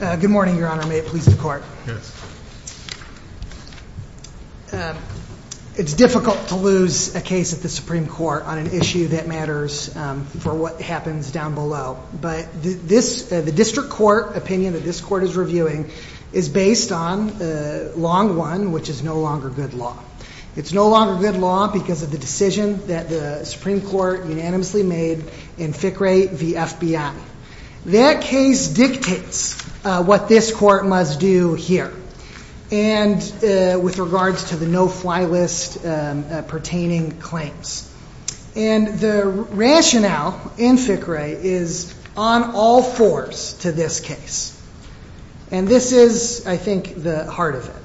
Good morning, your honor. May it please the court. It's difficult to lose a case at the Supreme Court on an issue that matters for what happens down below, but the district court opinion that this court is reviewing is based on Long 1, which is no longer good law. It's no longer good law because of the decision that the Supreme Court unanimously made in FICRE v. FBI. That case dictates what this court must do here, and with regards to the no-fly list pertaining claims. And the rationale in FICRE is on all fours to this case. And this is, I think, the heart of it.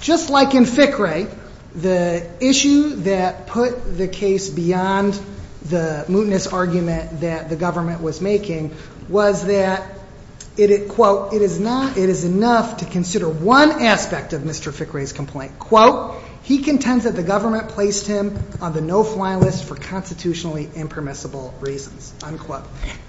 Just like in FICRE, the issue that put the case beyond the mootness argument that the government was making was that, quote, it is enough to consider one aspect of Mr. FICRE's complaint. Quote, he contends that the government placed him on the no-fly list for constitutionally impermissible reasons, unquote.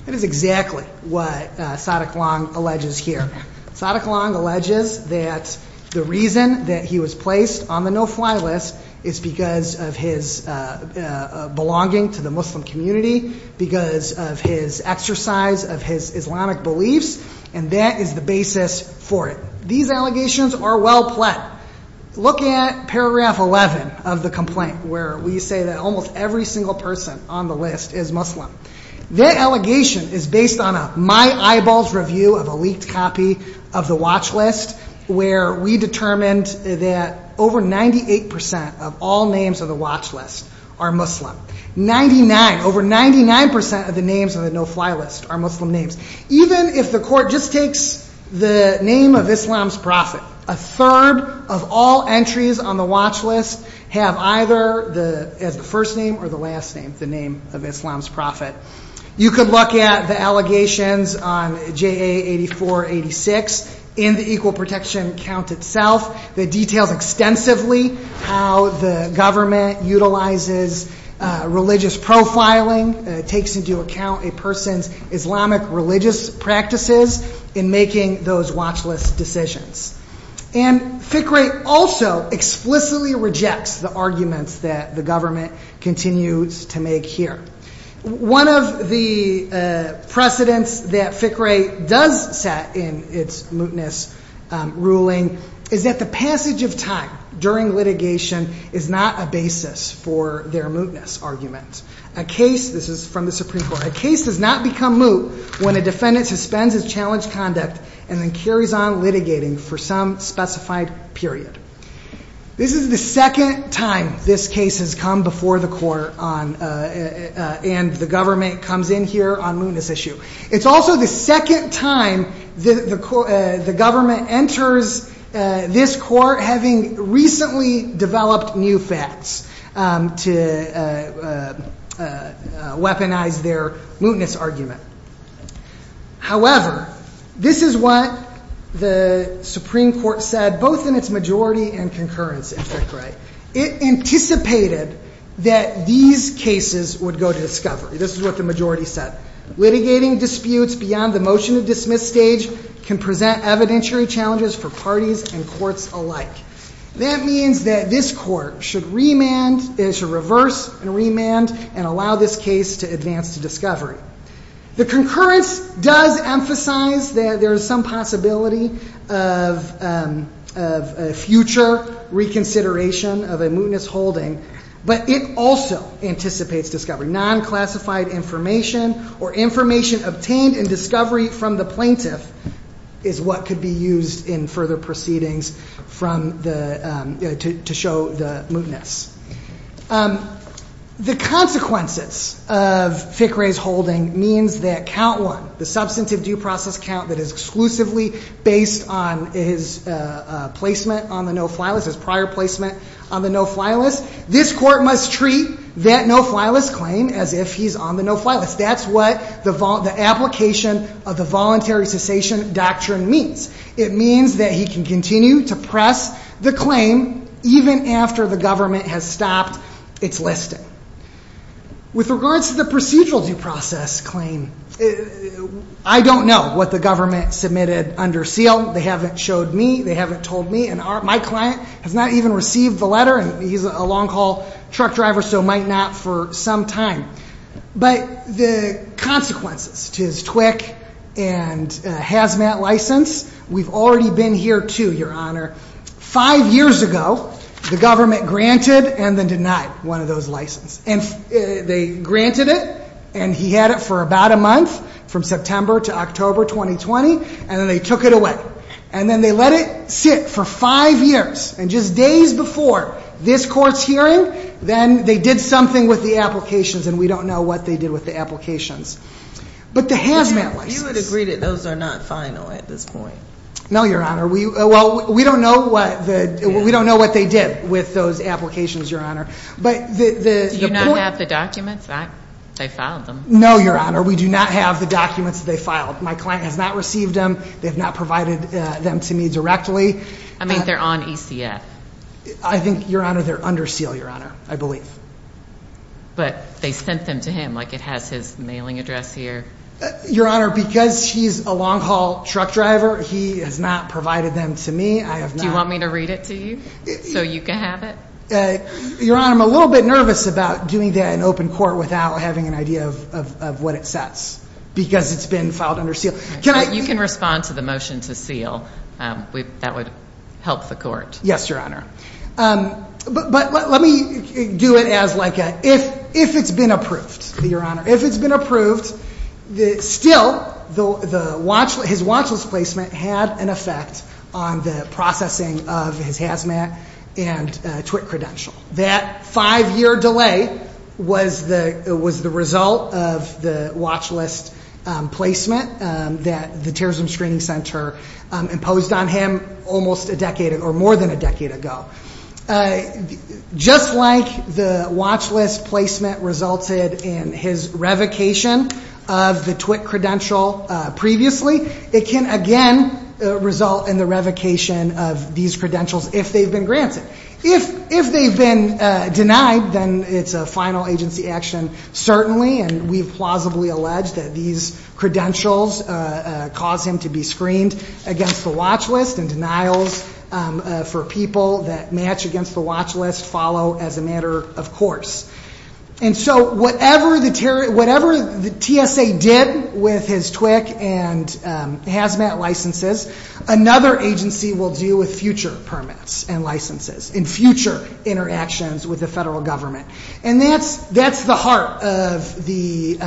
That is exactly what Saadiq Long alleges here. Saadiq Long alleges that the reason that he was placed on the no-fly list is because of his belonging to the Muslim community, because of his exercise of his Islamic beliefs, and that is the basis for it. These allegations are well-pled. Look at paragraph 11 of the complaint, where we say that almost every single person on the list is Muslim. That allegation is based on a my eyeballs review of a leaked copy of the watch list, where we determined that over 98% of all names on the watch list are Muslim. Over 99% of the names on the no-fly list are Muslim names. Even if the court just takes the name of Islam's prophet, a third of all entries on the watch list have either the first name or the last name, the name of Islam's prophet. You could look at the allegations on JA 8486 in the Equal Protection Count itself that details extensively how the government utilizes religious profiling, takes into account a person's Islamic religious practices in making those watch list decisions. And FICRE also explicitly rejects the arguments that the government continues to make here. One of the precedents that FICRE does set in its mootness ruling is that the passage of time during litigation is not a basis for their mootness argument. A case, this is from the Supreme Court, a case does not become moot when a defendant suspends his challenged conduct and then carries on litigating for some specified period. This is the second time this case has come before the court and the government comes in here on mootness issue. It's also the second time the government enters this court having recently developed new facts to weaponize their mootness argument. However, this is what the Supreme Court said both in its majority and concurrence in FICRE. It anticipated that these cases would go to discovery. This is what the majority said. Litigating disputes beyond the motion to dismiss stage can present evidentiary challenges for parties and courts alike. That means that this court should remand, it should reverse and remand and allow this case to advance to discovery. The concurrence does emphasize that there is some possibility of future reconsideration of a mootness holding, but it also anticipates discovery. Non-classified information or information obtained in discovery from the plaintiff is what could be used in further proceedings from the, to show the mootness. The consequences of FICRE's holding means that count one, the substantive due process count that is exclusively based on his placement on the no fly list, his prior placement on the no fly list, this court must treat that no fly list claim as if he's on the no fly list. That's what the application of the voluntary cessation doctrine means. It means that he can continue to press the claim even after the government has stopped its listing. With regards to the procedural due process claim, I don't know what the government submitted under seal. They haven't showed me, they haven't told me, and my client has not even received the letter, and he's a long haul truck driver, so might not for some time. But the consequences to his TWIC and Hazmat license, we've already been here too, your honor. Five years ago, the government granted and then denied one of those licenses. And they granted it, and he had it for about a month, from September to October 2020, and then they took it away. And then they let it sit for five years, and just days before this court's hearing, then they did something with the applications, and we don't know what they did with the applications. But the Hazmat license... You would agree that those are not final at this point? No, your honor. We don't know what they did with those applications, your honor. But the... Do you not have the documents? They filed them. No, your honor. We do not have the documents that they filed. My client has not received them. They have not provided them to me directly. I mean, they're on ECF. I think, your honor, they're under seal, your honor. I believe. But they sent them to him, like it has his mailing address here. Your honor, because he's a long haul truck driver, he has not provided them to me. I have not... Do you want me to read it to you, so you can have it? Your honor, I'm a little bit nervous about doing that in open court without having an idea of what it says, because it's been filed under seal. You can respond to the motion to seal. That would help the court. Yes, your honor. But let me do it as like a, if it's been approved, your honor, if it's been approved, still, his watch list placement had an effect on the processing of his hazmat and twit credential. That five year delay was the result of the watch list placement that the Terrorism Screening Center imposed on him almost a decade, or more than a decade ago. Just like the watch list placement resulted in his revocation of the twit credential previously, it can again result in the revocation of these credentials if they've been granted. If they've been denied, then it's a final agency action, certainly, and we've plausibly alleged that these credentials cause him to be screened against the watch list, and denials for people that match against the watch list follow as a matter of course. And so, whatever the TSA did with his TWIC and hazmat licenses, another agency will do with future permits and licenses, in future interactions with the federal government. And that's the heart of the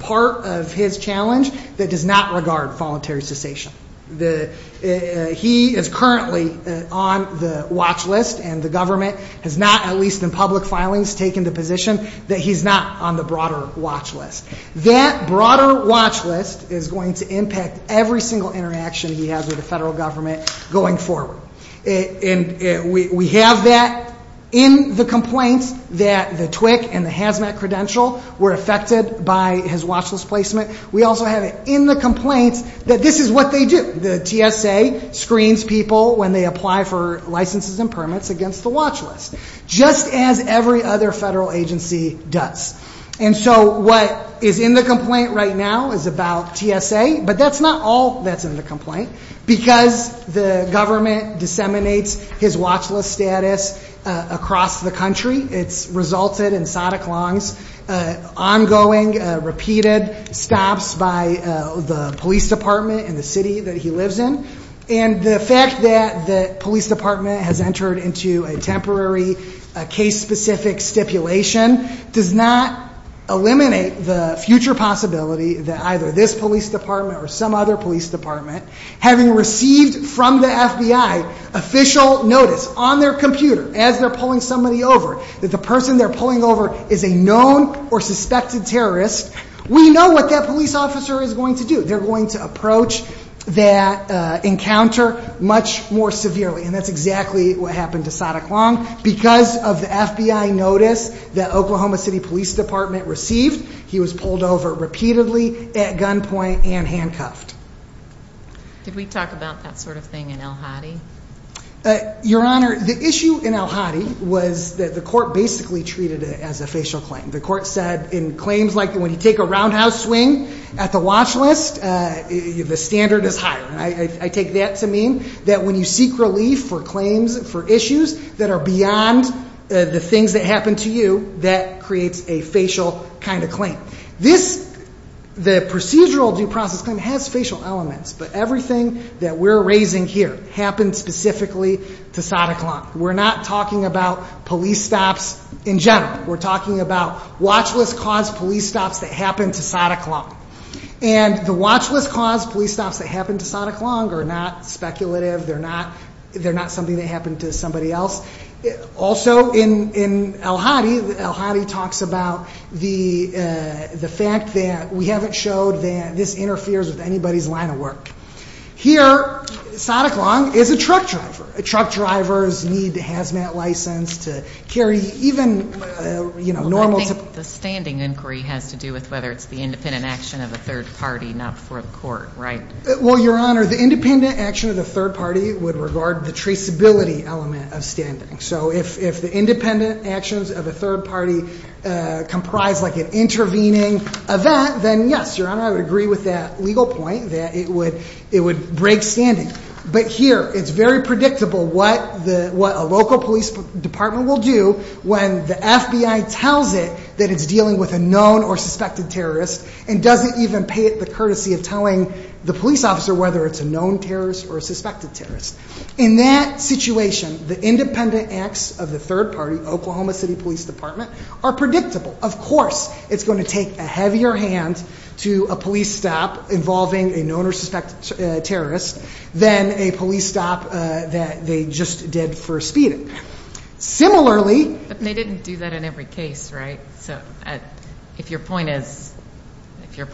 part of his challenge that does not regard voluntary cessation. He is currently on the watch list, and the government has not, at least in public filings, taken the position that he's not on the broader watch list. That broader watch list is going to impact every single interaction he has with the federal government going forward. We have that in the complaints that the TWIC and the hazmat credential were affected by his watch list placement. We also have it in the complaints that this is what they do. The TSA screens people when they apply for licenses and permits against the watch list, just as every other federal agency does. And so, what is in the complaint right now is about TSA, but that's not all that's in the complaint, because the government disseminates his watch list status across the country. It's resulted in Sadek Long's ongoing, repeated stops by the police department in the city that he lives in. And the fact that the police department has entered into a temporary case-specific stipulation does not eliminate the future possibility that either this police department or some other police department, having received from the FBI official notice on their computer as they're pulling somebody over, that the person they're pulling over is a known or suspected terrorist, we know what that police officer is going to do. They're going to approach that encounter much more severely, and that's exactly what happened to Sadek Long. Because of the FBI notice that Oklahoma City Police Department received, he was pulled over repeatedly, at gunpoint, and handcuffed. Did we talk about that sort of thing in El Hadi? Your Honor, the issue in El Hadi was that the court basically treated it as a facial claim. The court said in claims like when you take a roundhouse swing at the watch list, the standard is higher. I take that to mean that when you seek relief for claims, for issues that are beyond the things that happened to you, that creates a facial kind of claim. The procedural due process claim has facial elements, but everything that we're raising here happened specifically to Sadek Long. We're not talking about police stops in general. We're talking about watch list cause police stops that happened to Sadek Long. And the watch list cause police stops that happened to Sadek Long are not speculative. They're not something that happened to somebody else. Also in El Hadi, El Hadi talks about the fact that we haven't showed that this interferes with anybody's line of work. Here, Sadek Long is a truck driver. Truck drivers need a hazmat license to carry even normal- The standing inquiry has to do with whether it's the independent action of a third party, not for the court, right? Well, your honor, the independent action of the third party would regard the traceability element of standing. So if the independent actions of a third party comprise an intervening event, then yes, your honor, I would agree with that legal point that it would break standing. But here, it's very predictable what a local police department will do when the FBI tells it that it's dealing with a known or suspected terrorist and doesn't even pay it the courtesy of telling the police officer whether it's a known terrorist or a suspected terrorist. In that situation, the independent acts of the third party, Oklahoma City Police Department, are predictable. Of course, it's going to take a heavier hand to a police stop involving a known or suspected terrorist than a police stop that they just did for speeding. Similarly- But they didn't do that in every case, right? So if your point is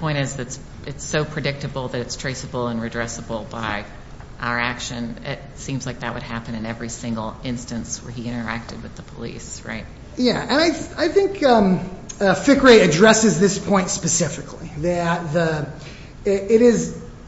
that it's so predictable that it's traceable and redressable by our action, it seems like that would happen in every single instance where he interacted with the police, right? Yeah, and I think Fickrey addresses this point specifically, that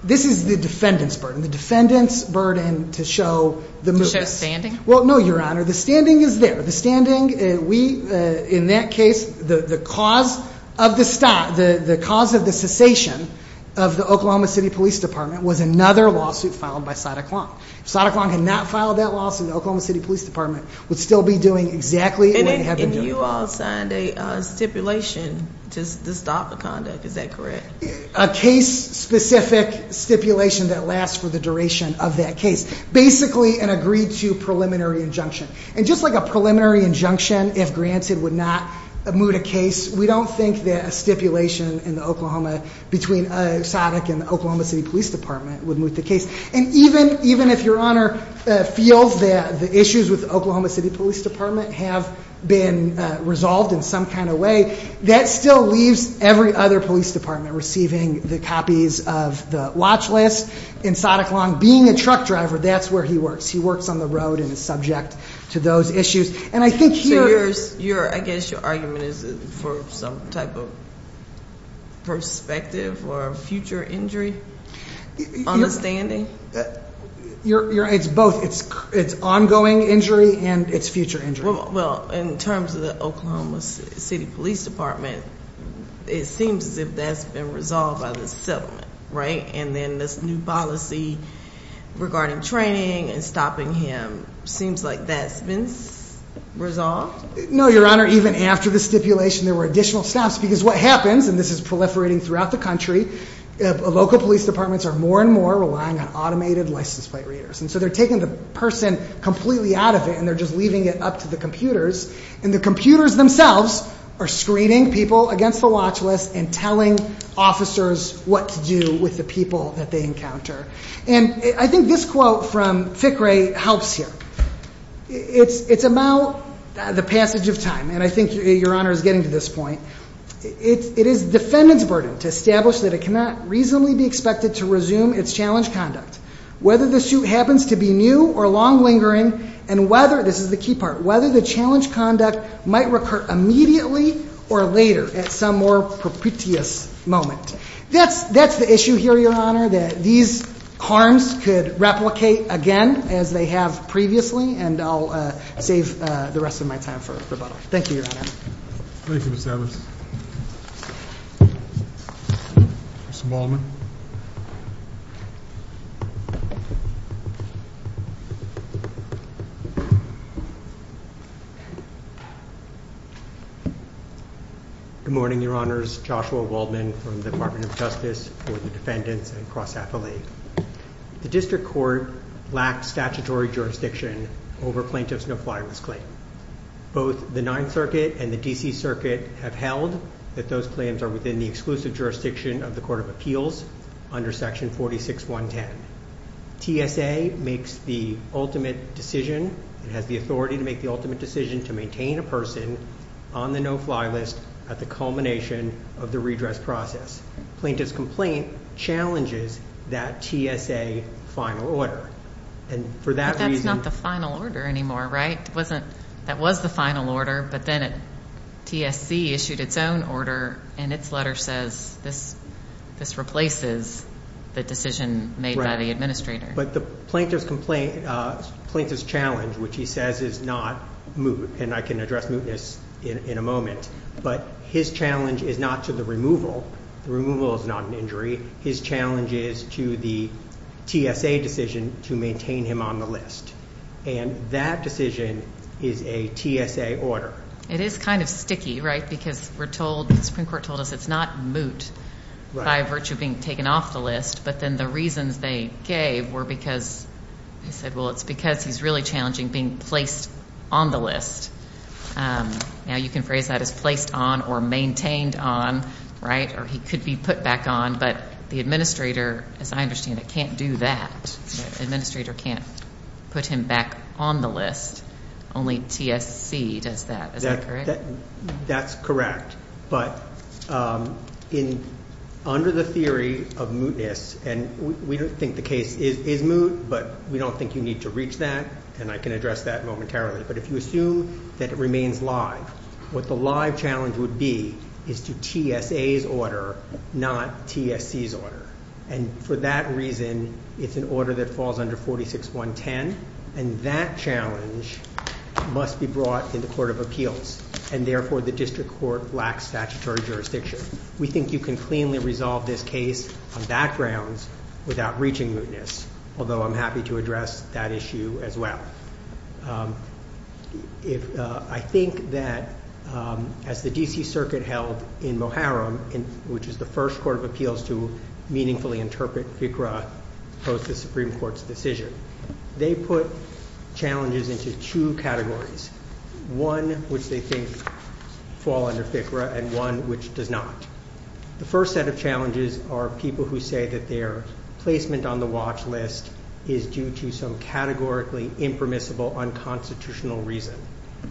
this is the defendant's burden, the defendant's burden to show the- To show standing? Well, no, your honor, the standing is there. The standing, we, in that case, the cause of the stop, the cause of the cessation of the Oklahoma City Police Department was another lawsuit filed by Sada Klong. If Sada Klong had not filed that lawsuit, the Oklahoma City Police Department would still be doing exactly what they have been doing. And you all signed a stipulation to stop the conduct, is that correct? A case-specific stipulation that lasts for the duration of that case. Basically, an agreed to preliminary injunction. And just like a preliminary injunction, if granted, would not move the case, we don't think that a stipulation in Oklahoma between SADC and Oklahoma City Police Department would move the case. And even if your honor feels that the issues with Oklahoma City Police Department have been resolved in some kind of way, that still leaves every other police department receiving the copies of the watch list. And Sada Klong, being a truck driver, that's where he works. He works on the road and is subject to those issues. And I think here- So I guess your argument is for some type of perspective or future injury? Understanding? It's both, it's ongoing injury and it's future injury. Well, in terms of the Oklahoma City Police Department, it seems as if that's been resolved by the settlement, right? And then this new policy regarding training and stopping him. Seems like that's been resolved? No, your honor, even after the stipulation, there were additional stops. Because what happens, and this is proliferating throughout the country, local police departments are more and more relying on automated license plate readers. And so they're taking the person completely out of it, and they're just leaving it up to the computers. And the computers themselves are screening people against the watch list and telling officers what to do with the people that they encounter. And I think this quote from Thickray helps here. It's about the passage of time, and I think your honor is getting to this point. It is defendant's burden to establish that it cannot reasonably be expected to resume its challenge conduct. Whether the suit happens to be new or long lingering, and whether, this is the key part, whether the challenge conduct might recur immediately or later at some more propitious moment. That's the issue here, your honor, that these harms could replicate again, as they have previously, and I'll save the rest of my time for rebuttal. Thank you, your honor. Thank you, Mr. Adams. Mr. Ballman. Good morning, your honors. Joshua Waldman from the Department of Justice for the Defendants and Cross-Affiliate. The district court lacks statutory jurisdiction over plaintiff's no flyer's claim. Both the 9th Circuit and the DC Circuit have held that those claims are within the exclusive jurisdiction of the Court of Appeals under section 46110. TSA makes the ultimate decision, and has the authority to make the ultimate decision to maintain a person on the no fly list at the culmination of the redress process. Plaintiff's complaint challenges that TSA final order, and for that reason. But that's not the final order anymore, right? That was the final order, but then TSC issued its own order, and its letter says this replaces the decision made by the administrator. But the plaintiff's complaint, plaintiff's challenge, which he says is not moot, and I can address mootness in a moment, but his challenge is not to the removal. The removal is not an injury. His challenge is to the TSA decision to maintain him on the list. And that decision is a TSA order. It is kind of sticky, right? Because we're told, the Supreme Court told us it's not moot by virtue of being taken off the list. But then the reasons they gave were because they said, well, it's because he's really challenging being placed on the list. Now you can phrase that as placed on or maintained on, right? Or he could be put back on, but the administrator, as I understand it, can't do that. Administrator can't put him back on the list. Only TSC does that. Is that correct? That's correct. But under the theory of mootness, and we don't think the case is moot, but we don't think you need to reach that, and I can address that momentarily. But if you assume that it remains live, what the live challenge would be is to TSA's order, not TSC's order. And for that reason, it's an order that falls under 46.110. And that challenge must be brought in the Court of Appeals. And therefore, the district court lacks statutory jurisdiction. We think you can cleanly resolve this case on backgrounds without reaching mootness. Although I'm happy to address that issue as well. I think that as the DC Circuit held in Moharam, which is the first Court of Appeals to meaningfully interpret FICRA post the Supreme Court's decision. They put challenges into two categories. One which they think fall under FICRA and one which does not. The first set of challenges are people who say that their placement on the watch list is due to some categorically impermissible unconstitutional reason.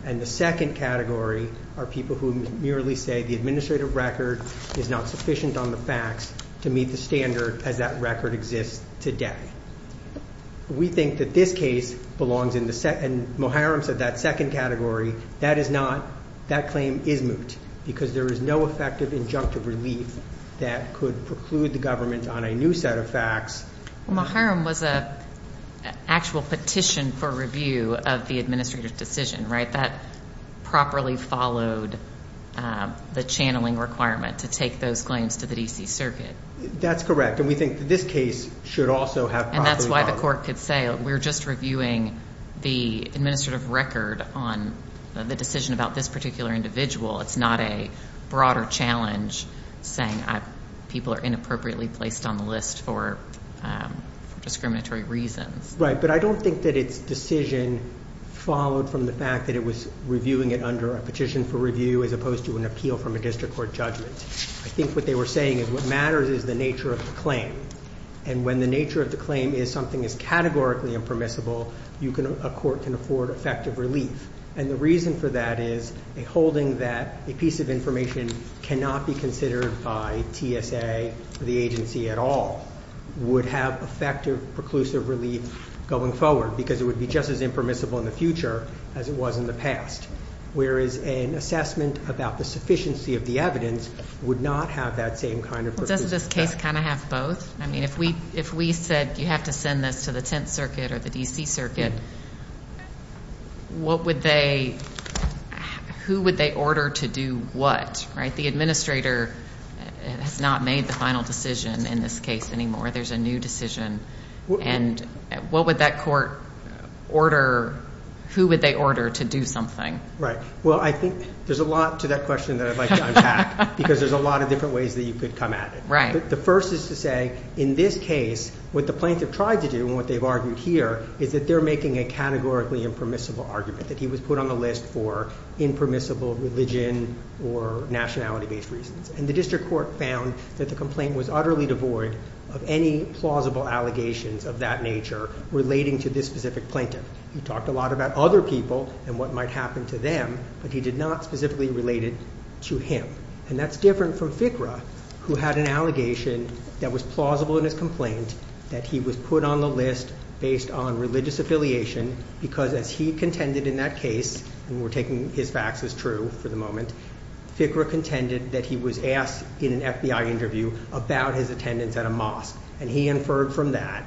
And the second category are people who merely say the administrative record is not sufficient on the facts to meet the standard as that record exists today. We think that this case belongs in the second, Moharam said that second category. That is not, that claim is moot. Because there is no effective injunctive relief that could preclude the government on a new set of facts. Moharam was a actual petition for review of the administrative decision, right? That properly followed the channeling requirement to take those claims to the DC Circuit. That's correct. And we think that this case should also have. And that's why the court could say, we're just reviewing the administrative record on the decision about this particular individual. It's not a broader challenge saying people are inappropriately placed on the list for discriminatory reasons. Right, but I don't think that it's decision followed from the fact that it was reviewing it under a petition for review as opposed to an appeal from a district court judgment. I think what they were saying is what matters is the nature of the claim. And when the nature of the claim is something that's categorically impermissible, a court can afford effective relief. And the reason for that is a holding that a piece of information cannot be considered by TSA or the agency at all would have effective, preclusive relief going forward. Because it would be just as impermissible in the future as it was in the past. Whereas an assessment about the sufficiency of the evidence would not have that same kind of. But doesn't this case kind of have both? I mean, if we said you have to send this to the Tenth Circuit or the DC Circuit, what would they, who would they order to do what, right? The administrator has not made the final decision in this case anymore. There's a new decision. And what would that court order, who would they order to do something? Right, well, I think there's a lot to that question that I'd like to unpack, because there's a lot of different ways that you could come at it. But the first is to say, in this case, what the plaintiff tried to do, and what they've argued here, is that they're making a categorically impermissible argument, that he was put on the list for impermissible religion or nationality-based reasons. And the district court found that the complaint was utterly devoid of any plausible allegations of that nature relating to this specific plaintiff. He talked a lot about other people and what might happen to them, but he did not specifically relate it to him. And that's different from Fikra, who had an allegation that was plausible in his complaint, that he was put on the list based on religious affiliation, because as he contended in that case, and we're taking his facts as true for the moment, Fikra contended that he was asked in an FBI interview about his attendance at a mosque. And he inferred from that,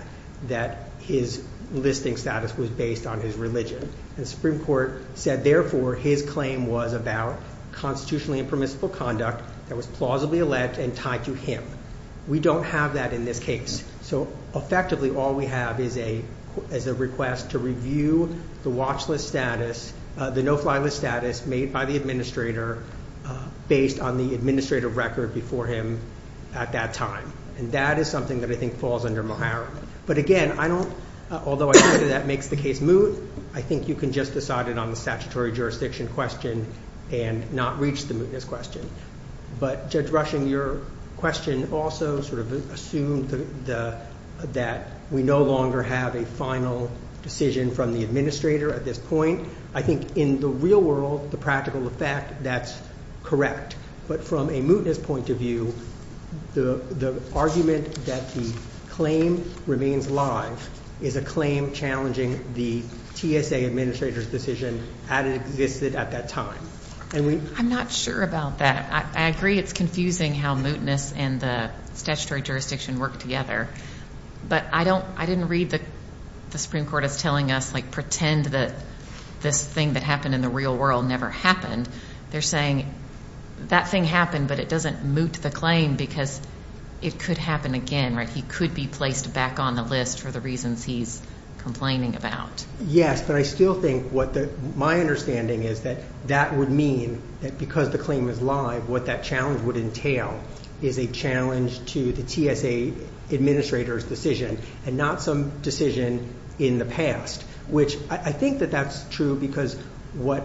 that his listing status was based on his religion. And the Supreme Court said, therefore, his claim was about constitutionally impermissible conduct that was plausibly alleged and tied to him. We don't have that in this case. So effectively, all we have is a request to review the watch list status, the no fly list status made by the administrator based on the administrative record before him at that time. And that is something that I think falls under Mahara. But again, I don't, although I think that makes the case moot, I think you can just decide it on the statutory jurisdiction question and not reach the mootness question. But Judge Rushing, your question also sort of assumed that we no longer have a final decision from the administrator at this point. I think in the real world, the practical effect, that's correct. But from a mootness point of view, the argument that the claim remains live is a claim challenging the TSA administrator's decision as it existed at that time. And we- I'm not sure about that. I agree it's confusing how mootness and the statutory jurisdiction work together. But I didn't read the Supreme Court as telling us, pretend that this thing that happened in the real world never happened. They're saying that thing happened, but it doesn't moot the claim because it could happen again, right? He could be placed back on the list for the reasons he's complaining about. Yes, but I still think what my understanding is that that would mean that because the claim is live, what that challenge would entail is a challenge to the TSA administrator's decision and not some decision in the past. Which I think that that's true because what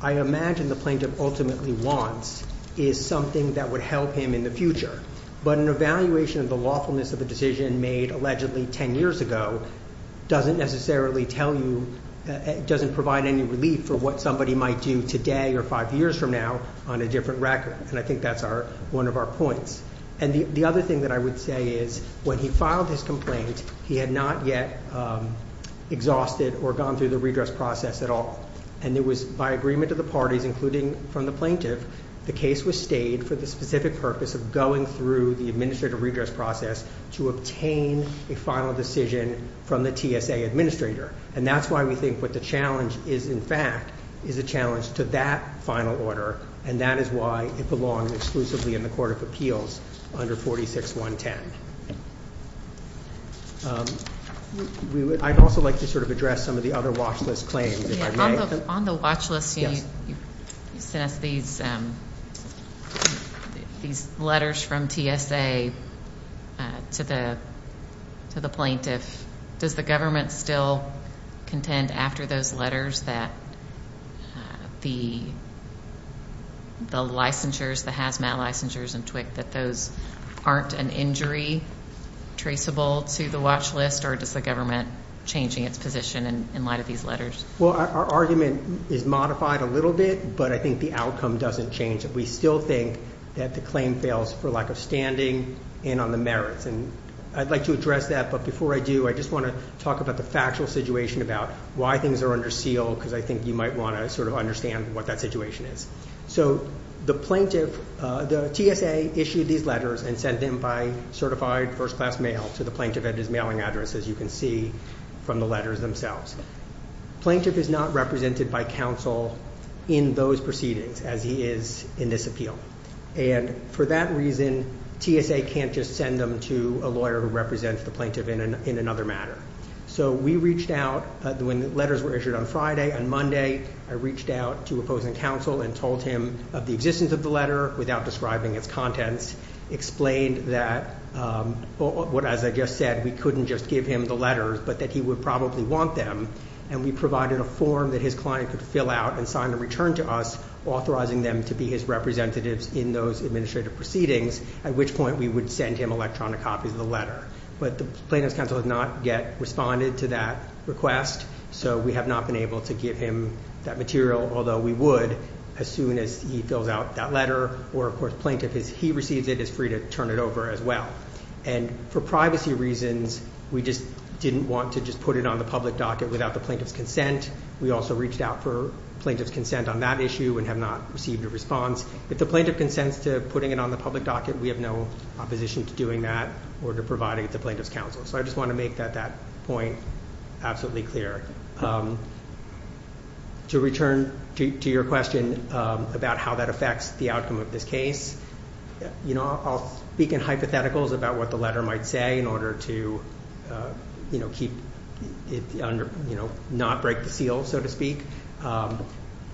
I imagine the plaintiff ultimately wants is something that would help him in the future. But an evaluation of the lawfulness of a decision made allegedly ten years ago doesn't necessarily tell you, doesn't provide any relief for what somebody might do today or five years from now on a different record. And I think that's one of our points. And the other thing that I would say is when he filed his complaint, he had not yet exhausted or gone through the redress process at all. And it was by agreement of the parties, including from the plaintiff, the case was stayed for the specific purpose of going through the administrative redress process to obtain a final decision from the TSA administrator. And that's why we think what the challenge is, in fact, is a challenge to that final order. And that is why it belongs exclusively in the Court of Appeals under 46110. I'd also like to sort of address some of the other watch list claims, if I may. On the watch list, you sent us these letters from TSA to the plaintiff. Does the government still contend after those letters that the licensures, the hazmat licensures and TWIC, that those aren't an injury traceable to the watch list? Or does the government changing its position in light of these letters? Well, our argument is modified a little bit, but I think the outcome doesn't change. We still think that the claim fails for lack of standing and on the merits. And I'd like to address that, but before I do, I just want to talk about the factual situation about why things are under seal, because I think you might want to sort of understand what that situation is. So the plaintiff, the TSA issued these letters and sent them by certified first class mail to the plaintiff at his mailing address, as you can see from the letters themselves. Plaintiff is not represented by counsel in those proceedings as he is in this appeal. And for that reason, TSA can't just send them to a lawyer who represents the plaintiff in another matter. So we reached out, when the letters were issued on Friday and Monday, I reached out to opposing counsel and told him of the existence of the letter without describing its contents. Explained that, as I just said, we couldn't just give him the letters, but that he would probably want them. And we provided a form that his client could fill out and sign a return to us, authorizing them to be his representatives in those administrative proceedings, at which point we would send him electronic copies of the letter. But the plaintiff's counsel has not yet responded to that request, so we have not been able to give him that material. Although we would, as soon as he fills out that letter, or of course, plaintiff, as he receives it, is free to turn it over as well. And for privacy reasons, we just didn't want to just put it on the public docket without the plaintiff's consent. We also reached out for plaintiff's consent on that issue and have not received a response. If the plaintiff consents to putting it on the public docket, we have no opposition to doing that or to providing it to plaintiff's counsel. So I just want to make that point absolutely clear. To return to your question about how that affects the outcome of this case, I'll speak in hypotheticals about what the letter might say in order to not break the seal, so to speak.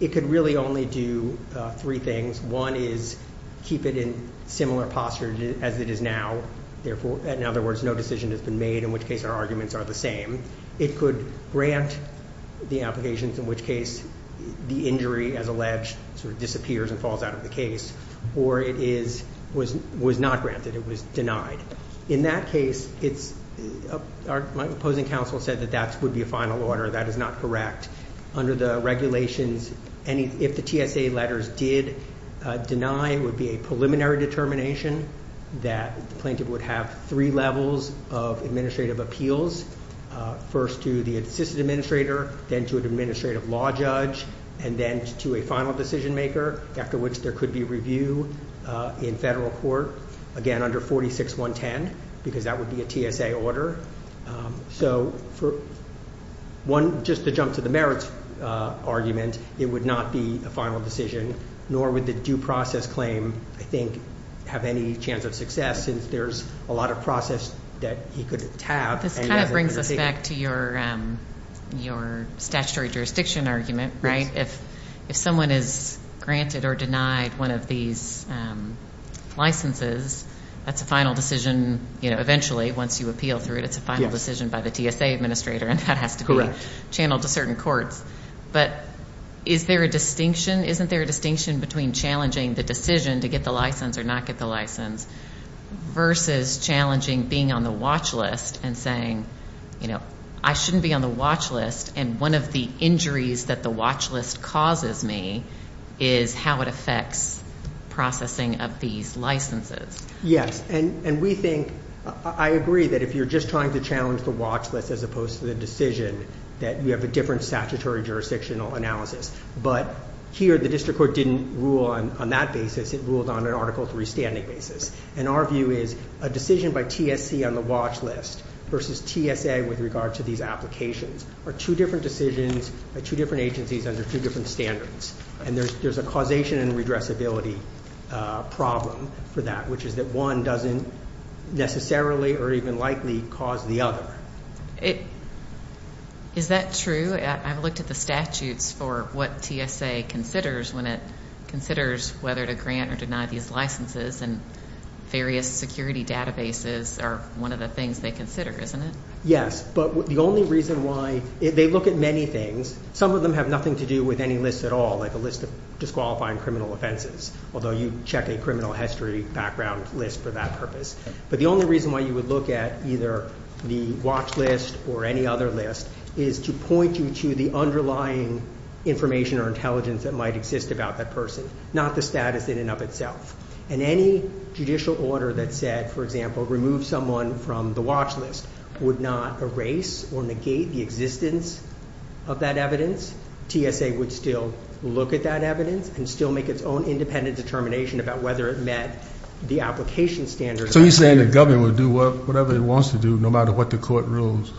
It could really only do three things. One is keep it in similar posture as it is now. In other words, no decision has been made, in which case our arguments are the same. It could grant the applications, in which case the injury, as alleged, sort of disappears and falls out of the case, or it was not granted, it was denied. In that case, my opposing counsel said that that would be a final order. That is not correct. Under the regulations, if the TSA letters did deny, it would be a preliminary determination that the plaintiff would have three levels of administrative appeals. First to the assistant administrator, then to an administrative law judge, and then to a final decision maker, after which there could be review in federal court. Again, under 46.110, because that would be a TSA order. So for one, just to jump to the merits argument, it would not be a final decision, nor would the due process claim, I think, have any chance of success, since there's a lot of process that he could have. This kind of brings us back to your statutory jurisdiction argument, right? If someone is granted or denied one of these licenses, that's a final decision, eventually, once you appeal through it, it's a final decision by the TSA administrator, and that has to be channeled to certain courts, but is there a distinction? Isn't there a distinction between challenging the decision to get the license or not get the license, versus challenging being on the watch list and saying, I shouldn't be on the watch list. And one of the injuries that the watch list causes me is how it affects processing of these licenses. Yes, and we think, I agree that if you're just trying to challenge the watch list as opposed to the decision, that you have a different statutory jurisdictional analysis. But here, the district court didn't rule on that basis, it ruled on an article three standing basis. And our view is, a decision by TSC on the watch list, versus TSA with regard to these applications, are two different decisions by two different agencies under two different standards. And there's a causation and redressability problem for that, which is that one doesn't necessarily, or even likely, cause the other. Is that true? I've looked at the statutes for what TSA considers when it considers whether to grant or deny these licenses, and various security databases are one of the things they consider, isn't it? Yes, but the only reason why, they look at many things. Some of them have nothing to do with any list at all, like a list of disqualifying criminal offenses, although you check a criminal history background list for that purpose. But the only reason why you would look at either the watch list or any other list is to point you to the underlying information or intelligence that might exist about that person, not the status in and of itself. And any judicial order that said, for example, remove someone from the watch list, would not erase or negate the existence of that evidence. TSA would still look at that evidence and still make its own independent determination about whether it met the application standards. So you're saying the government would do whatever it wants to do, no matter what the court rules.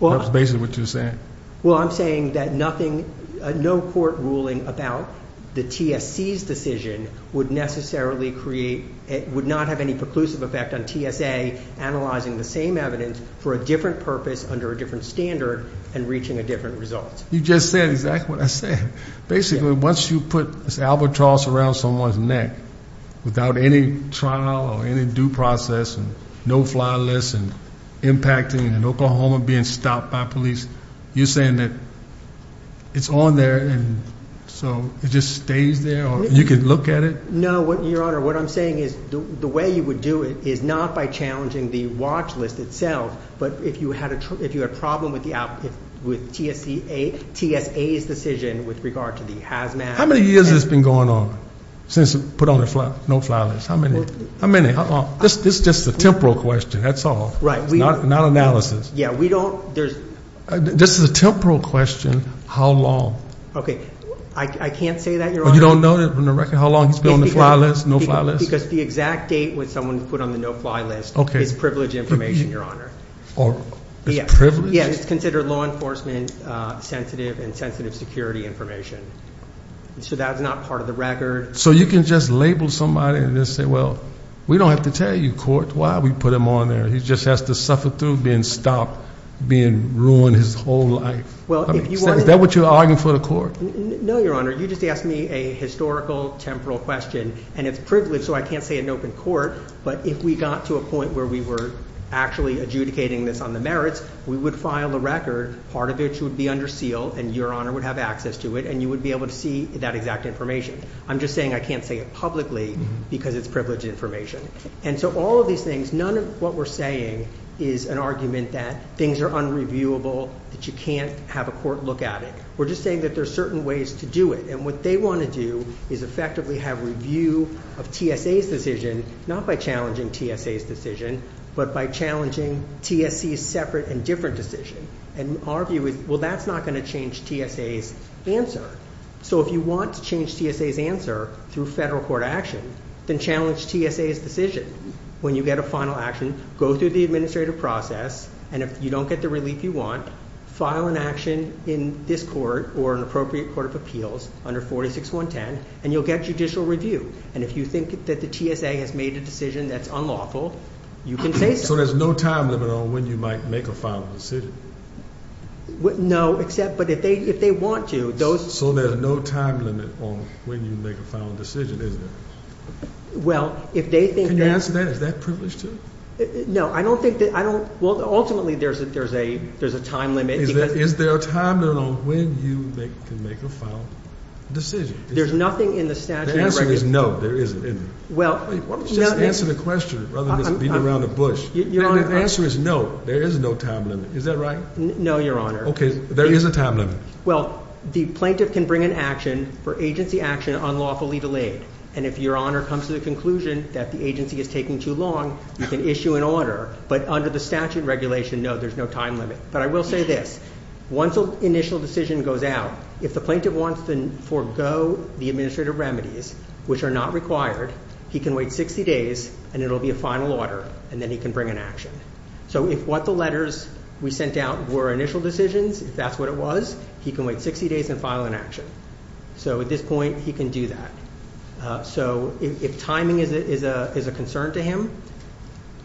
That's basically what you're saying. Well, I'm saying that no court ruling about the TSC's decision would necessarily create, would not have any preclusive effect on TSA analyzing the same evidence for a different purpose under a different standard and reaching a different result. You just said exactly what I said. Basically, once you put this albatross around someone's neck without any trial or any due process and no-fly list and impacting and Oklahoma being stopped by police. You're saying that it's on there and so it just stays there or you can look at it? No, Your Honor, what I'm saying is the way you would do it is not by challenging the watch list itself, but if you had a problem with TSA's decision with regard to the hazmat. How many years has this been going on since we put on a no-fly list? How many? This is just a temporal question, that's all. Right. Not analysis. Yeah, we don't, there's- This is a temporal question, how long? Okay, I can't say that, Your Honor. You don't know from the record how long it's been on the fly list, no-fly list? Because the exact date when someone put on the no-fly list is privileged information, Your Honor. Or it's privileged? Yeah, it's considered law enforcement sensitive and sensitive security information. So that's not part of the record. So you can just label somebody and just say, well, we don't have to tell you, court, why we put him on there. He just has to suffer through being stopped, being ruined his whole life. Well, if you wanted- Is that what you're arguing for the court? No, Your Honor. You just asked me a historical, temporal question. And it's privileged, so I can't say in open court. But if we got to a point where we were actually adjudicating this on the merits, we would file a record, part of which would be under seal, and Your Honor would have access to it, and you would be able to see that exact information. I'm just saying I can't say it publicly because it's privileged information. And so all of these things, none of what we're saying is an argument that things are unreviewable, that you can't have a court look at it. We're just saying that there's certain ways to do it. And what they want to do is effectively have review of TSA's decision, not by challenging TSA's decision, but by challenging TSC's separate and different decision. And our view is, well, that's not going to change TSA's answer. So if you want to change TSA's answer through federal court action, then challenge TSA's decision. When you get a final action, go through the administrative process. And if you don't get the relief you want, file an action in this court or an appropriate court of appeals under 46110, and you'll get judicial review. And if you think that the TSA has made a decision that's unlawful, you can say so. So there's no time limit on when you might make a final decision? No, except, but if they want to, those- So there's no time limit on when you make a final decision, is there? Well, if they think that- Can you answer that? Is that privileged, too? No, I don't think that, I don't, well, ultimately there's a time limit, because- Is there a time limit on when you can make a final decision? There's nothing in the statute of records- The answer is no, there isn't, isn't it? Well- Why don't you just answer the question, rather than just beating around the bush? Your Honor- The answer is no, there is no time limit, is that right? No, Your Honor. Okay, there is a time limit. Well, the plaintiff can bring an action for agency action unlawfully delayed. And if Your Honor comes to the conclusion that the agency is taking too long, you can issue an order. But under the statute regulation, no, there's no time limit. But I will say this, once an initial decision goes out, if the plaintiff wants to forego the administrative remedies, which are not required, he can wait 60 days, and it'll be a final order, and then he can bring an action. So if what the letters we sent out were initial decisions, if that's what it was, he can wait 60 days and file an action. So at this point, he can do that. So if timing is a concern to him,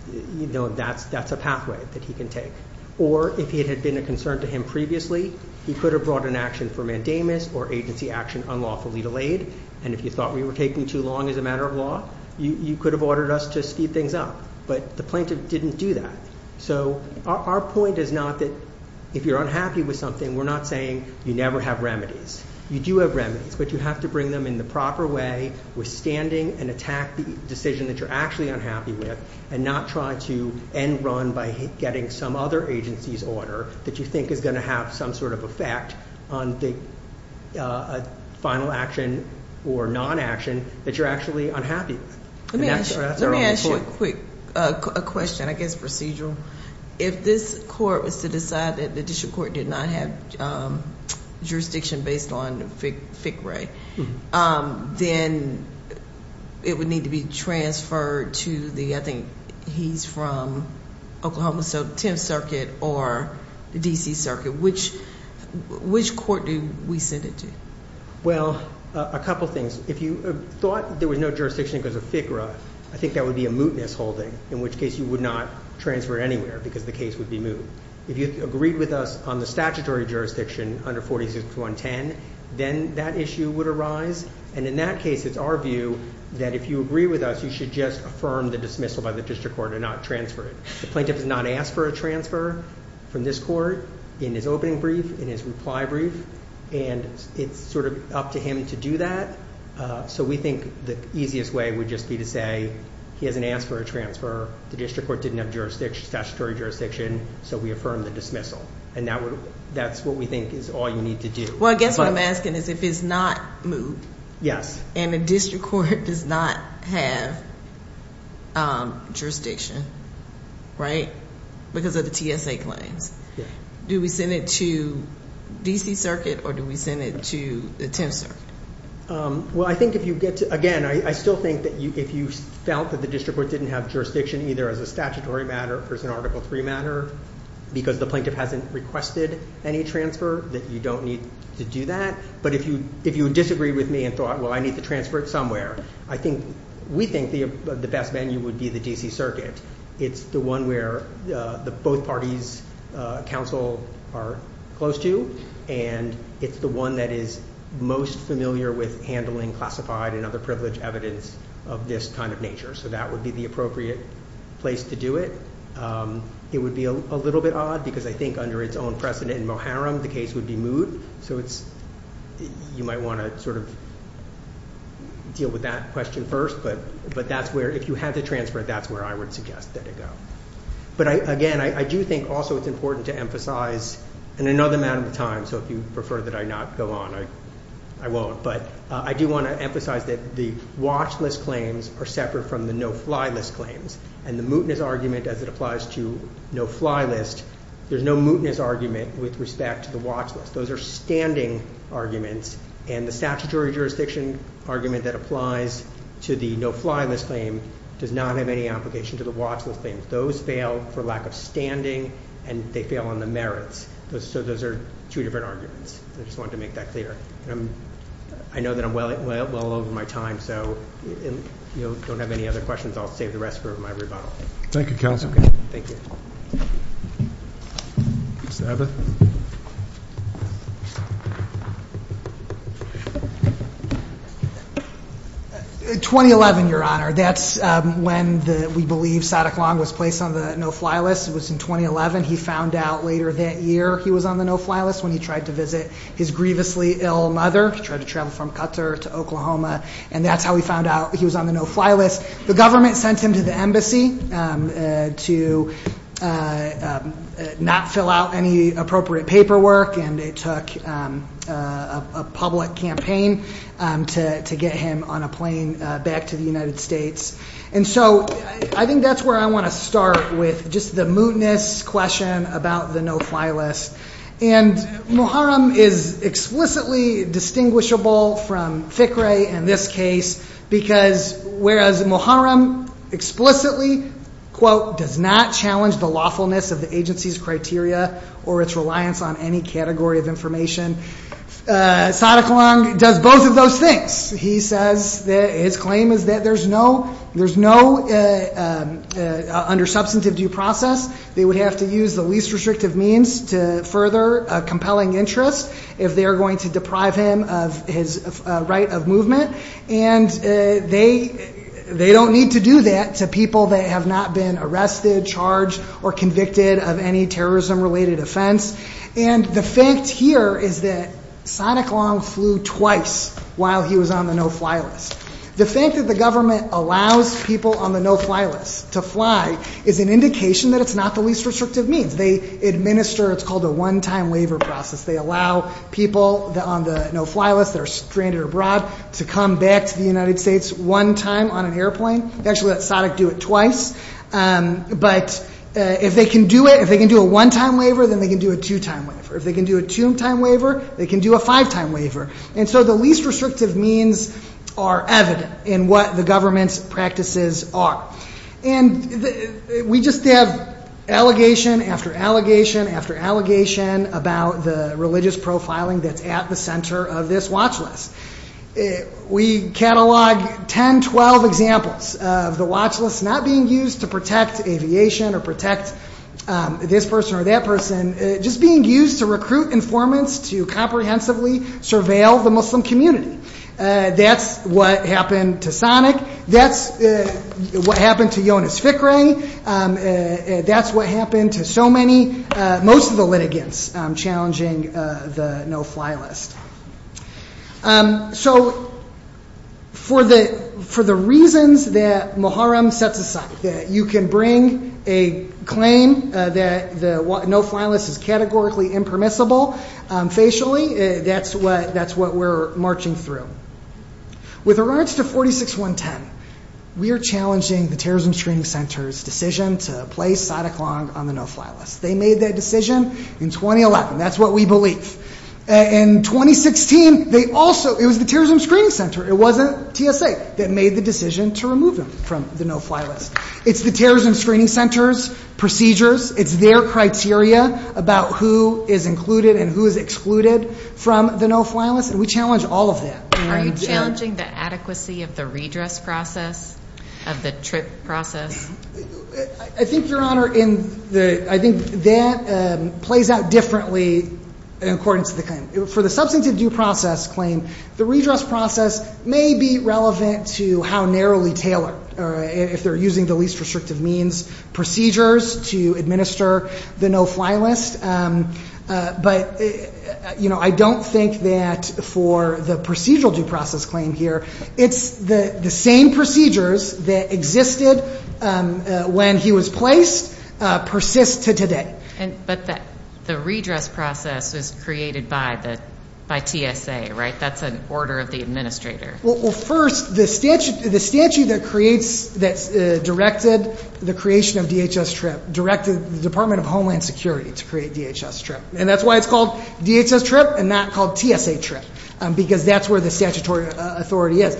that's a pathway that he can take. Or if it had been a concern to him previously, he could have brought an action for mandamus or agency action unlawfully delayed. And if you thought we were taking too long as a matter of law, you could have ordered us to speed things up. But the plaintiff didn't do that. So our point is not that if you're unhappy with something, we're not saying you never have remedies. You do have remedies, but you have to bring them in the proper way, withstanding and attack the decision that you're actually unhappy with. And not try to end run by getting some other agency's order that you think is going to have some sort of effect on the final action or non-action that you're actually unhappy with. And that's our- Let me ask you a quick question, I guess procedural. If this court was to decide that the district court did not have jurisdiction based on FICRA, then it would need to be transferred to the, I think he's from Oklahoma, so 10th Circuit or the DC Circuit. Which court do we send it to? Well, a couple things. If you thought there was no jurisdiction because of FICRA, I think that would be a mootness holding. In which case you would not transfer it anywhere because the case would be moot. If you agreed with us on the statutory jurisdiction under 46-110, then that issue would arise. And in that case, it's our view that if you agree with us, you should just affirm the dismissal by the district court and not transfer it. The plaintiff has not asked for a transfer from this court in his opening brief, in his reply brief. And it's sort of up to him to do that. So we think the easiest way would just be to say, he hasn't asked for a transfer, the district court didn't have statutory jurisdiction, so we affirm the dismissal. And that's what we think is all you need to do. Well, I guess what I'm asking is if it's not moot. Yes. And the district court does not have jurisdiction, right? Because of the TSA claims. Do we send it to DC Circuit or do we send it to the 10th Circuit? Well, I think if you get to, again, I still think that if you felt that the district court didn't have jurisdiction either as a statutory matter or as an Article III matter, because the plaintiff hasn't requested any transfer, that you don't need to do that. But if you disagree with me and thought, well, I need to transfer it somewhere, I think, we think the best venue would be the DC Circuit. It's the one where both parties, counsel, are close to. And it's the one that is most familiar with handling classified and other privileged evidence of this kind of nature. So that would be the appropriate place to do it. It would be a little bit odd, because I think under its own precedent in Moharam, the case would be moot. So you might want to sort of deal with that question first. But that's where, if you had to transfer it, that's where I would suggest that it go. But again, I do think also it's important to emphasize, in another matter of time, so if you prefer that I not go on, I won't. But I do want to emphasize that the watch list claims are separate from the no fly list claims. And the mootness argument, as it applies to no fly list, there's no mootness argument with respect to the watch list. Those are standing arguments. And the statutory jurisdiction argument that applies to the no fly list claim does not have any application to the watch list claim. Those fail for lack of standing, and they fail on the merits. So those are two different arguments. I just wanted to make that clear. I know that I'm well over my time, so if you don't have any other questions, I'll save the rest for my rebuttal. Thank you, counsel. Thank you. Mr. Abbott. 2011, your honor, that's when we believe Sadek Long was placed on the no fly list. It was in 2011. He found out later that year he was on the no fly list when he tried to visit his grievously ill mother. He tried to travel from Qatar to Oklahoma, and that's how he found out he was on the no fly list. The government sent him to the embassy to not fill out any appropriate paperwork, and it took a public campaign to get him on a plane back to the United States. And so I think that's where I want to start with just the mootness question about the no fly list. And Muharram is explicitly distinguishable from FICRE in this case, because whereas Muharram explicitly, quote, does not challenge the lawfulness of the agency's criteria or its reliance on any category of information, Sadek Long does both of those things. He says that his claim is that there's no, under substantive due process, they would have to use the least restrictive means to further a compelling interest if they are going to deprive him of his right of movement. And they don't need to do that to people that have not been arrested, charged, or convicted of any terrorism related offense. And the fact here is that Sadek Long flew twice while he was on the no fly list. The fact that the government allows people on the no fly list to fly is an indication that it's not the least restrictive means. They administer, it's called a one-time waiver process. They allow people on the no fly list that are stranded abroad to come back to the United States one time on an airplane. Actually, let Sadek do it twice. But if they can do it, if they can do a one-time waiver, then they can do a two-time waiver. If they can do a two-time waiver, they can do a five-time waiver. And so the least restrictive means are evident in what the government's practices are. And we just have allegation after allegation after allegation about the religious profiling that's at the center of this watch list. We catalog 10, 12 examples of the watch list not being used to protect aviation or protect this person or that person, just being used to recruit informants to comprehensively surveil the Muslim community. That's what happened to Sadek. That's what happened to Jonas Fickrey. That's what happened to so many, most of the litigants challenging the no fly list. So for the reasons that Muharrem sets aside, that you can bring a claim that the no fly list is categorically impermissible facially, that's what we're marching through. With regards to 46.110, we are challenging the Terrorism Screening Center's decision to place Sadek Long on the no fly list. They made that decision in 2011. That's what we believe. In 2016, it was the Terrorism Screening Center. It wasn't TSA that made the decision to remove him from the no fly list. It's the Terrorism Screening Center's procedures. It's their criteria about who is included and who is excluded from the no fly list. We challenge all of that. Are you challenging the adequacy of the redress process, of the TRIP process? I think, Your Honor, that plays out differently in accordance to the claim. For the substantive due process claim, the redress process may be relevant to how narrowly tailored or if they're using the least restrictive means procedures to administer the no fly list. But, you know, I don't think that for the procedural due process claim here, it's the same procedures that existed when he was placed persist to today. But the redress process was created by TSA, right? That's an order of the administrator. Well, first, the statute that created the creation of DHS TRIP directed the Department of Homeland Security to create DHS TRIP. And that's why it's called DHS TRIP and not called TSA TRIP, because that's where the statutory authority is.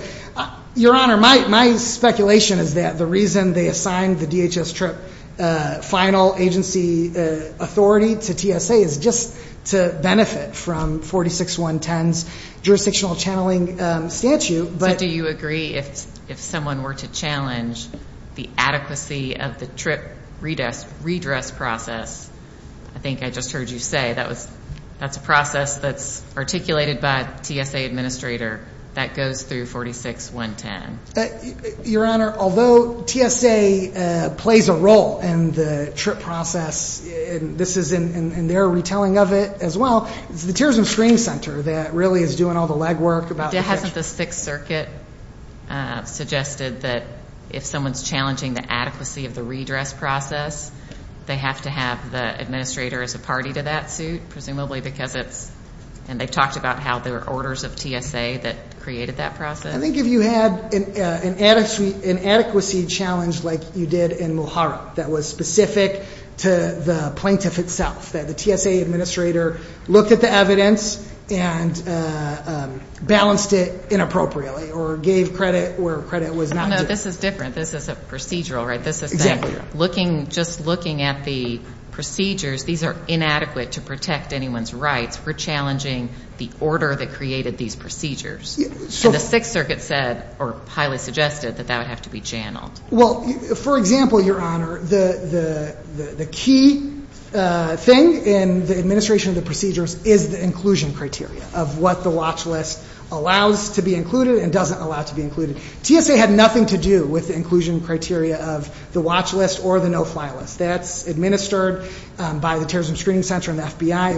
Your Honor, my speculation is that the reason they assigned the DHS TRIP final agency authority to TSA is just to benefit from 46-110's jurisdictional channeling statute, but- I think I just heard you say that's a process that's articulated by TSA administrator that goes through 46-110. Your Honor, although TSA plays a role in the TRIP process, and this is in their retelling of it as well, it's the terrorism screening center that really is doing all the legwork about- Hasn't the Sixth Circuit suggested that if someone's challenging the adequacy of the administrator as a party to that suit, presumably because it's- And they've talked about how there were orders of TSA that created that process. I think if you had an adequacy challenge like you did in Muharra that was specific to the plaintiff itself, that the TSA administrator looked at the evidence and balanced it inappropriately or gave credit where credit was not due. No, no, this is different. This is a procedural, right? Exactly. Just looking at the procedures, these are inadequate to protect anyone's rights for challenging the order that created these procedures. So the Sixth Circuit said, or highly suggested, that that would have to be channeled. Well, for example, Your Honor, the key thing in the administration of the procedures is the inclusion criteria of what the watch list allows to be included and doesn't allow to be or the no-fly list. That's administered by the Terrorism Screening Center and the FBI.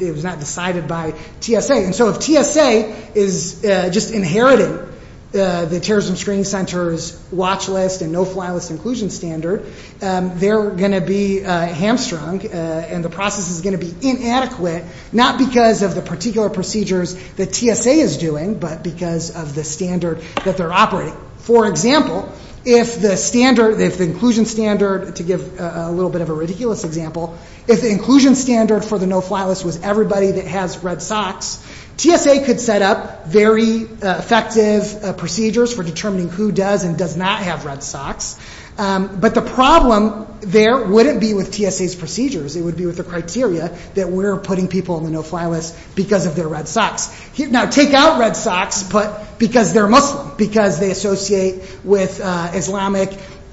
It was not decided by TSA. And so if TSA is just inheriting the Terrorism Screening Center's watch list and no-fly list inclusion standard, they're going to be hamstrung and the process is going to be inadequate, not because of the particular procedures that TSA is doing, but because of the standard that they're operating. For example, if the standard, if the inclusion standard, to give a little bit of a ridiculous example, if the inclusion standard for the no-fly list was everybody that has red socks, TSA could set up very effective procedures for determining who does and does not have red socks. But the problem there wouldn't be with TSA's procedures. It would be with the criteria that we're putting people on the no-fly list because of their red socks. Now, take out red socks, but because they're Muslim, because they associate with Islamic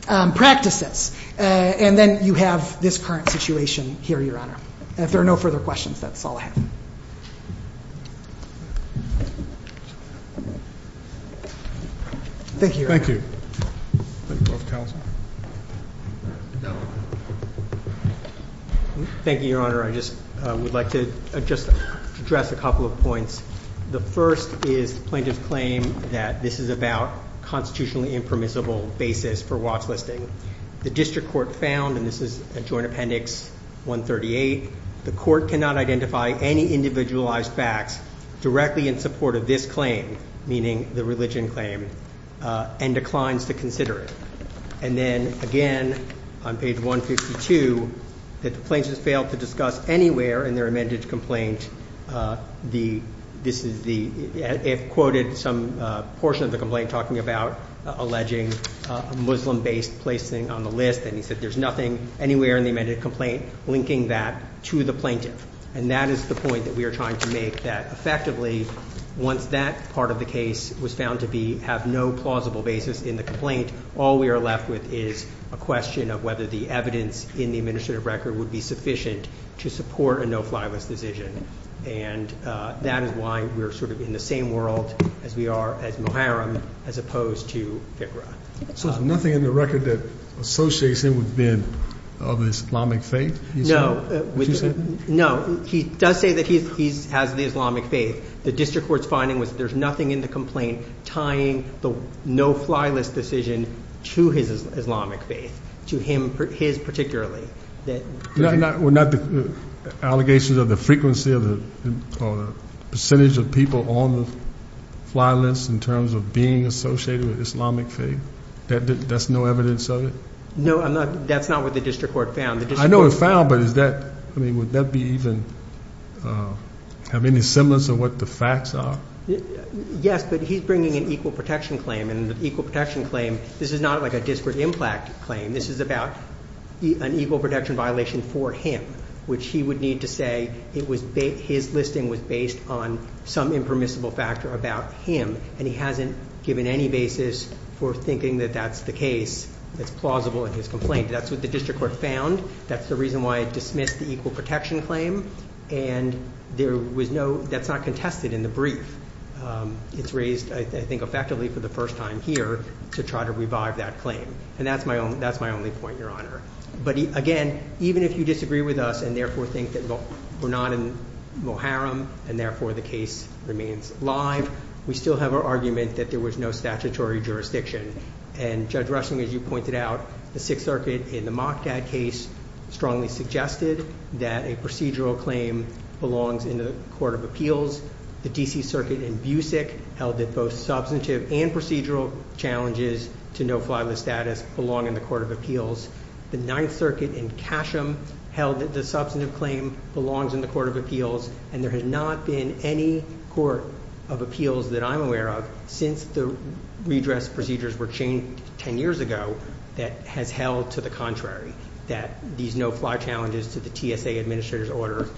practices. And then you have this current situation here, Your Honor. And if there are no further questions, that's all I have. Thank you, Your Honor. Thank you. Thank you, Your Honor. I just would like to just address a couple of points. The first is the plaintiff's claim that this is about constitutionally impermissible basis for watchlisting. The district court found, and this is Joint Appendix 138, the court cannot identify any individualized facts directly in support of this claim, meaning the religion claim, and declines to consider it. And then, again, on page 152, that the plaintiffs failed to discuss anywhere in their amended complaint the, this is the, it quoted some portion of the complaint talking about alleging Muslim-based placing on the list, and he said there's nothing anywhere in the amended complaint linking that to the plaintiff. And that is the point that we are trying to make, that effectively, once that part of the case was found to be, have no plausible basis in the complaint, all we are left with is a question of whether the evidence in the administrative record would be sufficient to support a no-fly list decision. And that is why we're sort of in the same world as we are as Muharrem, as opposed to Fikra. So there's nothing in the record that associates him with being of Islamic faith? No. No, he does say that he has the Islamic faith. The district court's finding was that there's nothing in the complaint tying the no-fly list decision to his Islamic faith, to him, his particularly. Were not the allegations of the frequency of the percentage of people on the fly list in terms of being associated with Islamic faith? That's no evidence of it? No, I'm not, that's not what the district court found. I know it's found, but is that, I mean, would that be even, have any semblance of what the facts are? Yes, but he's bringing an equal protection claim, and the equal protection claim, this is not like a disparate impact claim. This is about an equal protection violation for him, which he would need to say it was his listing was based on some impermissible factor about him. And he hasn't given any basis for thinking that that's the case that's plausible in his complaint. That's what the district court found. That's the reason why it dismissed the equal protection claim. And there was no, that's not contested in the brief. It's raised, I think, effectively for the first time here to try to revive that claim. And that's my only point, Your Honor. But again, even if you disagree with us and therefore think that we're not in Moharam and therefore the case remains live, we still have our argument that there was no statutory jurisdiction. And Judge Rushing, as you pointed out, the Sixth Circuit in the Moqtad case strongly suggested that a procedural claim belongs in the Court of Appeals. The D.C. Circuit in Busick held that both substantive and procedural challenges to no fly list status belong in the Court of Appeals. The Ninth Circuit in Casham held that the substantive claim belongs in the Court of Appeals. And there has not been any Court of Appeals that I'm aware of since the redress procedures were changed 10 years ago that has held to the contrary, that these no fly challenges to the TSA Administrator's Order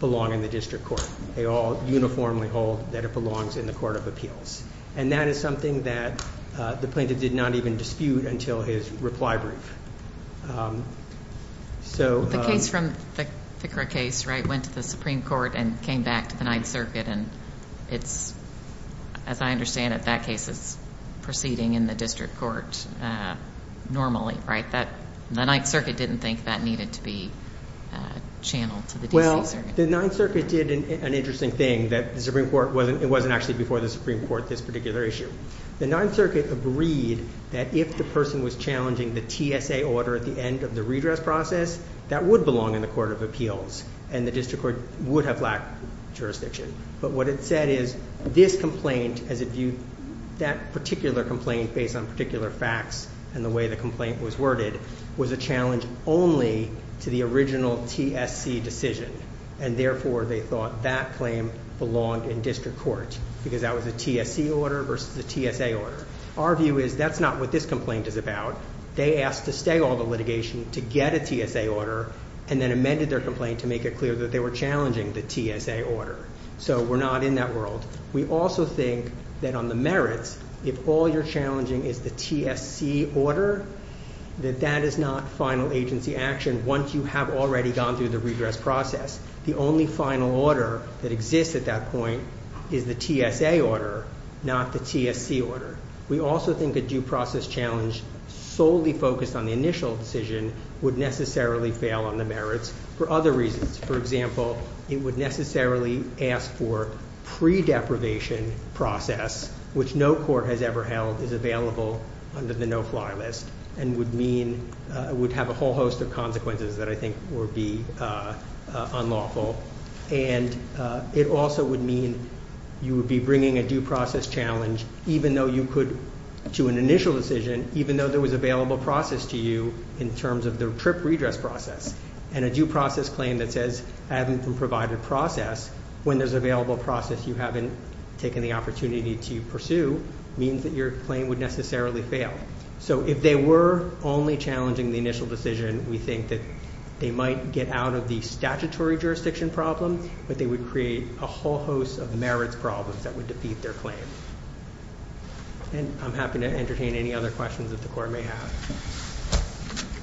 belong in the District Court. They all uniformly hold that it belongs in the Court of Appeals. And that is something that the plaintiff did not even dispute until his reply brief. So the case from the Fikra case, right, went to the Supreme Court and came back to the Ninth Circuit. And it's, as I understand it, that case is proceeding in the District Court normally, right? That the Ninth Circuit didn't think that needed to be channeled to the D.C. Circuit. Well, the Ninth Circuit did an interesting thing that the Supreme Court wasn't, it wasn't actually before the Supreme Court, this particular issue. The Ninth Circuit agreed that if the person was challenging the TSA Order at the end of the redress process, that would belong in the Court of Appeals. And the District Court would have lacked jurisdiction. But what it said is this complaint, as it viewed that particular complaint based on particular facts and the way the complaint was worded, was a challenge only to the original TSC decision. And therefore, they thought that claim belonged in District Court because that was a TSC order versus a TSA order. Our view is that's not what this complaint is about. They asked to stay all the litigation to get a TSA order and then amended their complaint to make it clear that they were challenging the TSA order. So we're not in that world. We also think that on the merits, if all you're challenging is the TSC order, that that is not final agency action once you have already gone through the redress process. The only final order that exists at that point is the TSA order, not the TSC order. We also think a due process challenge solely focused on the initial decision would necessarily fail on the merits for other reasons. For example, it would necessarily ask for pre-deprivation process, which no court has ever held is available under the no-fly list and would mean it would have a whole host of consequences that I think would be unlawful. And it also would mean you would be bringing a due process challenge, even though you could to an initial decision, even though there was available process to you in terms of the strict redress process and a due process claim that says I haven't been provided process when there's available process you haven't taken the opportunity to pursue means that your claim would necessarily fail. So if they were only challenging the initial decision, we think that they might get out of the statutory jurisdiction problem, but they would create a whole host of merits problems that would defeat their claim. And I'm happy to entertain any other questions that the court may have.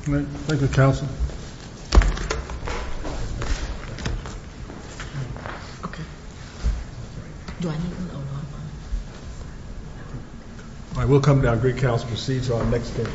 Thank you, counsel. I will come down. Great counsel proceeds to our next case.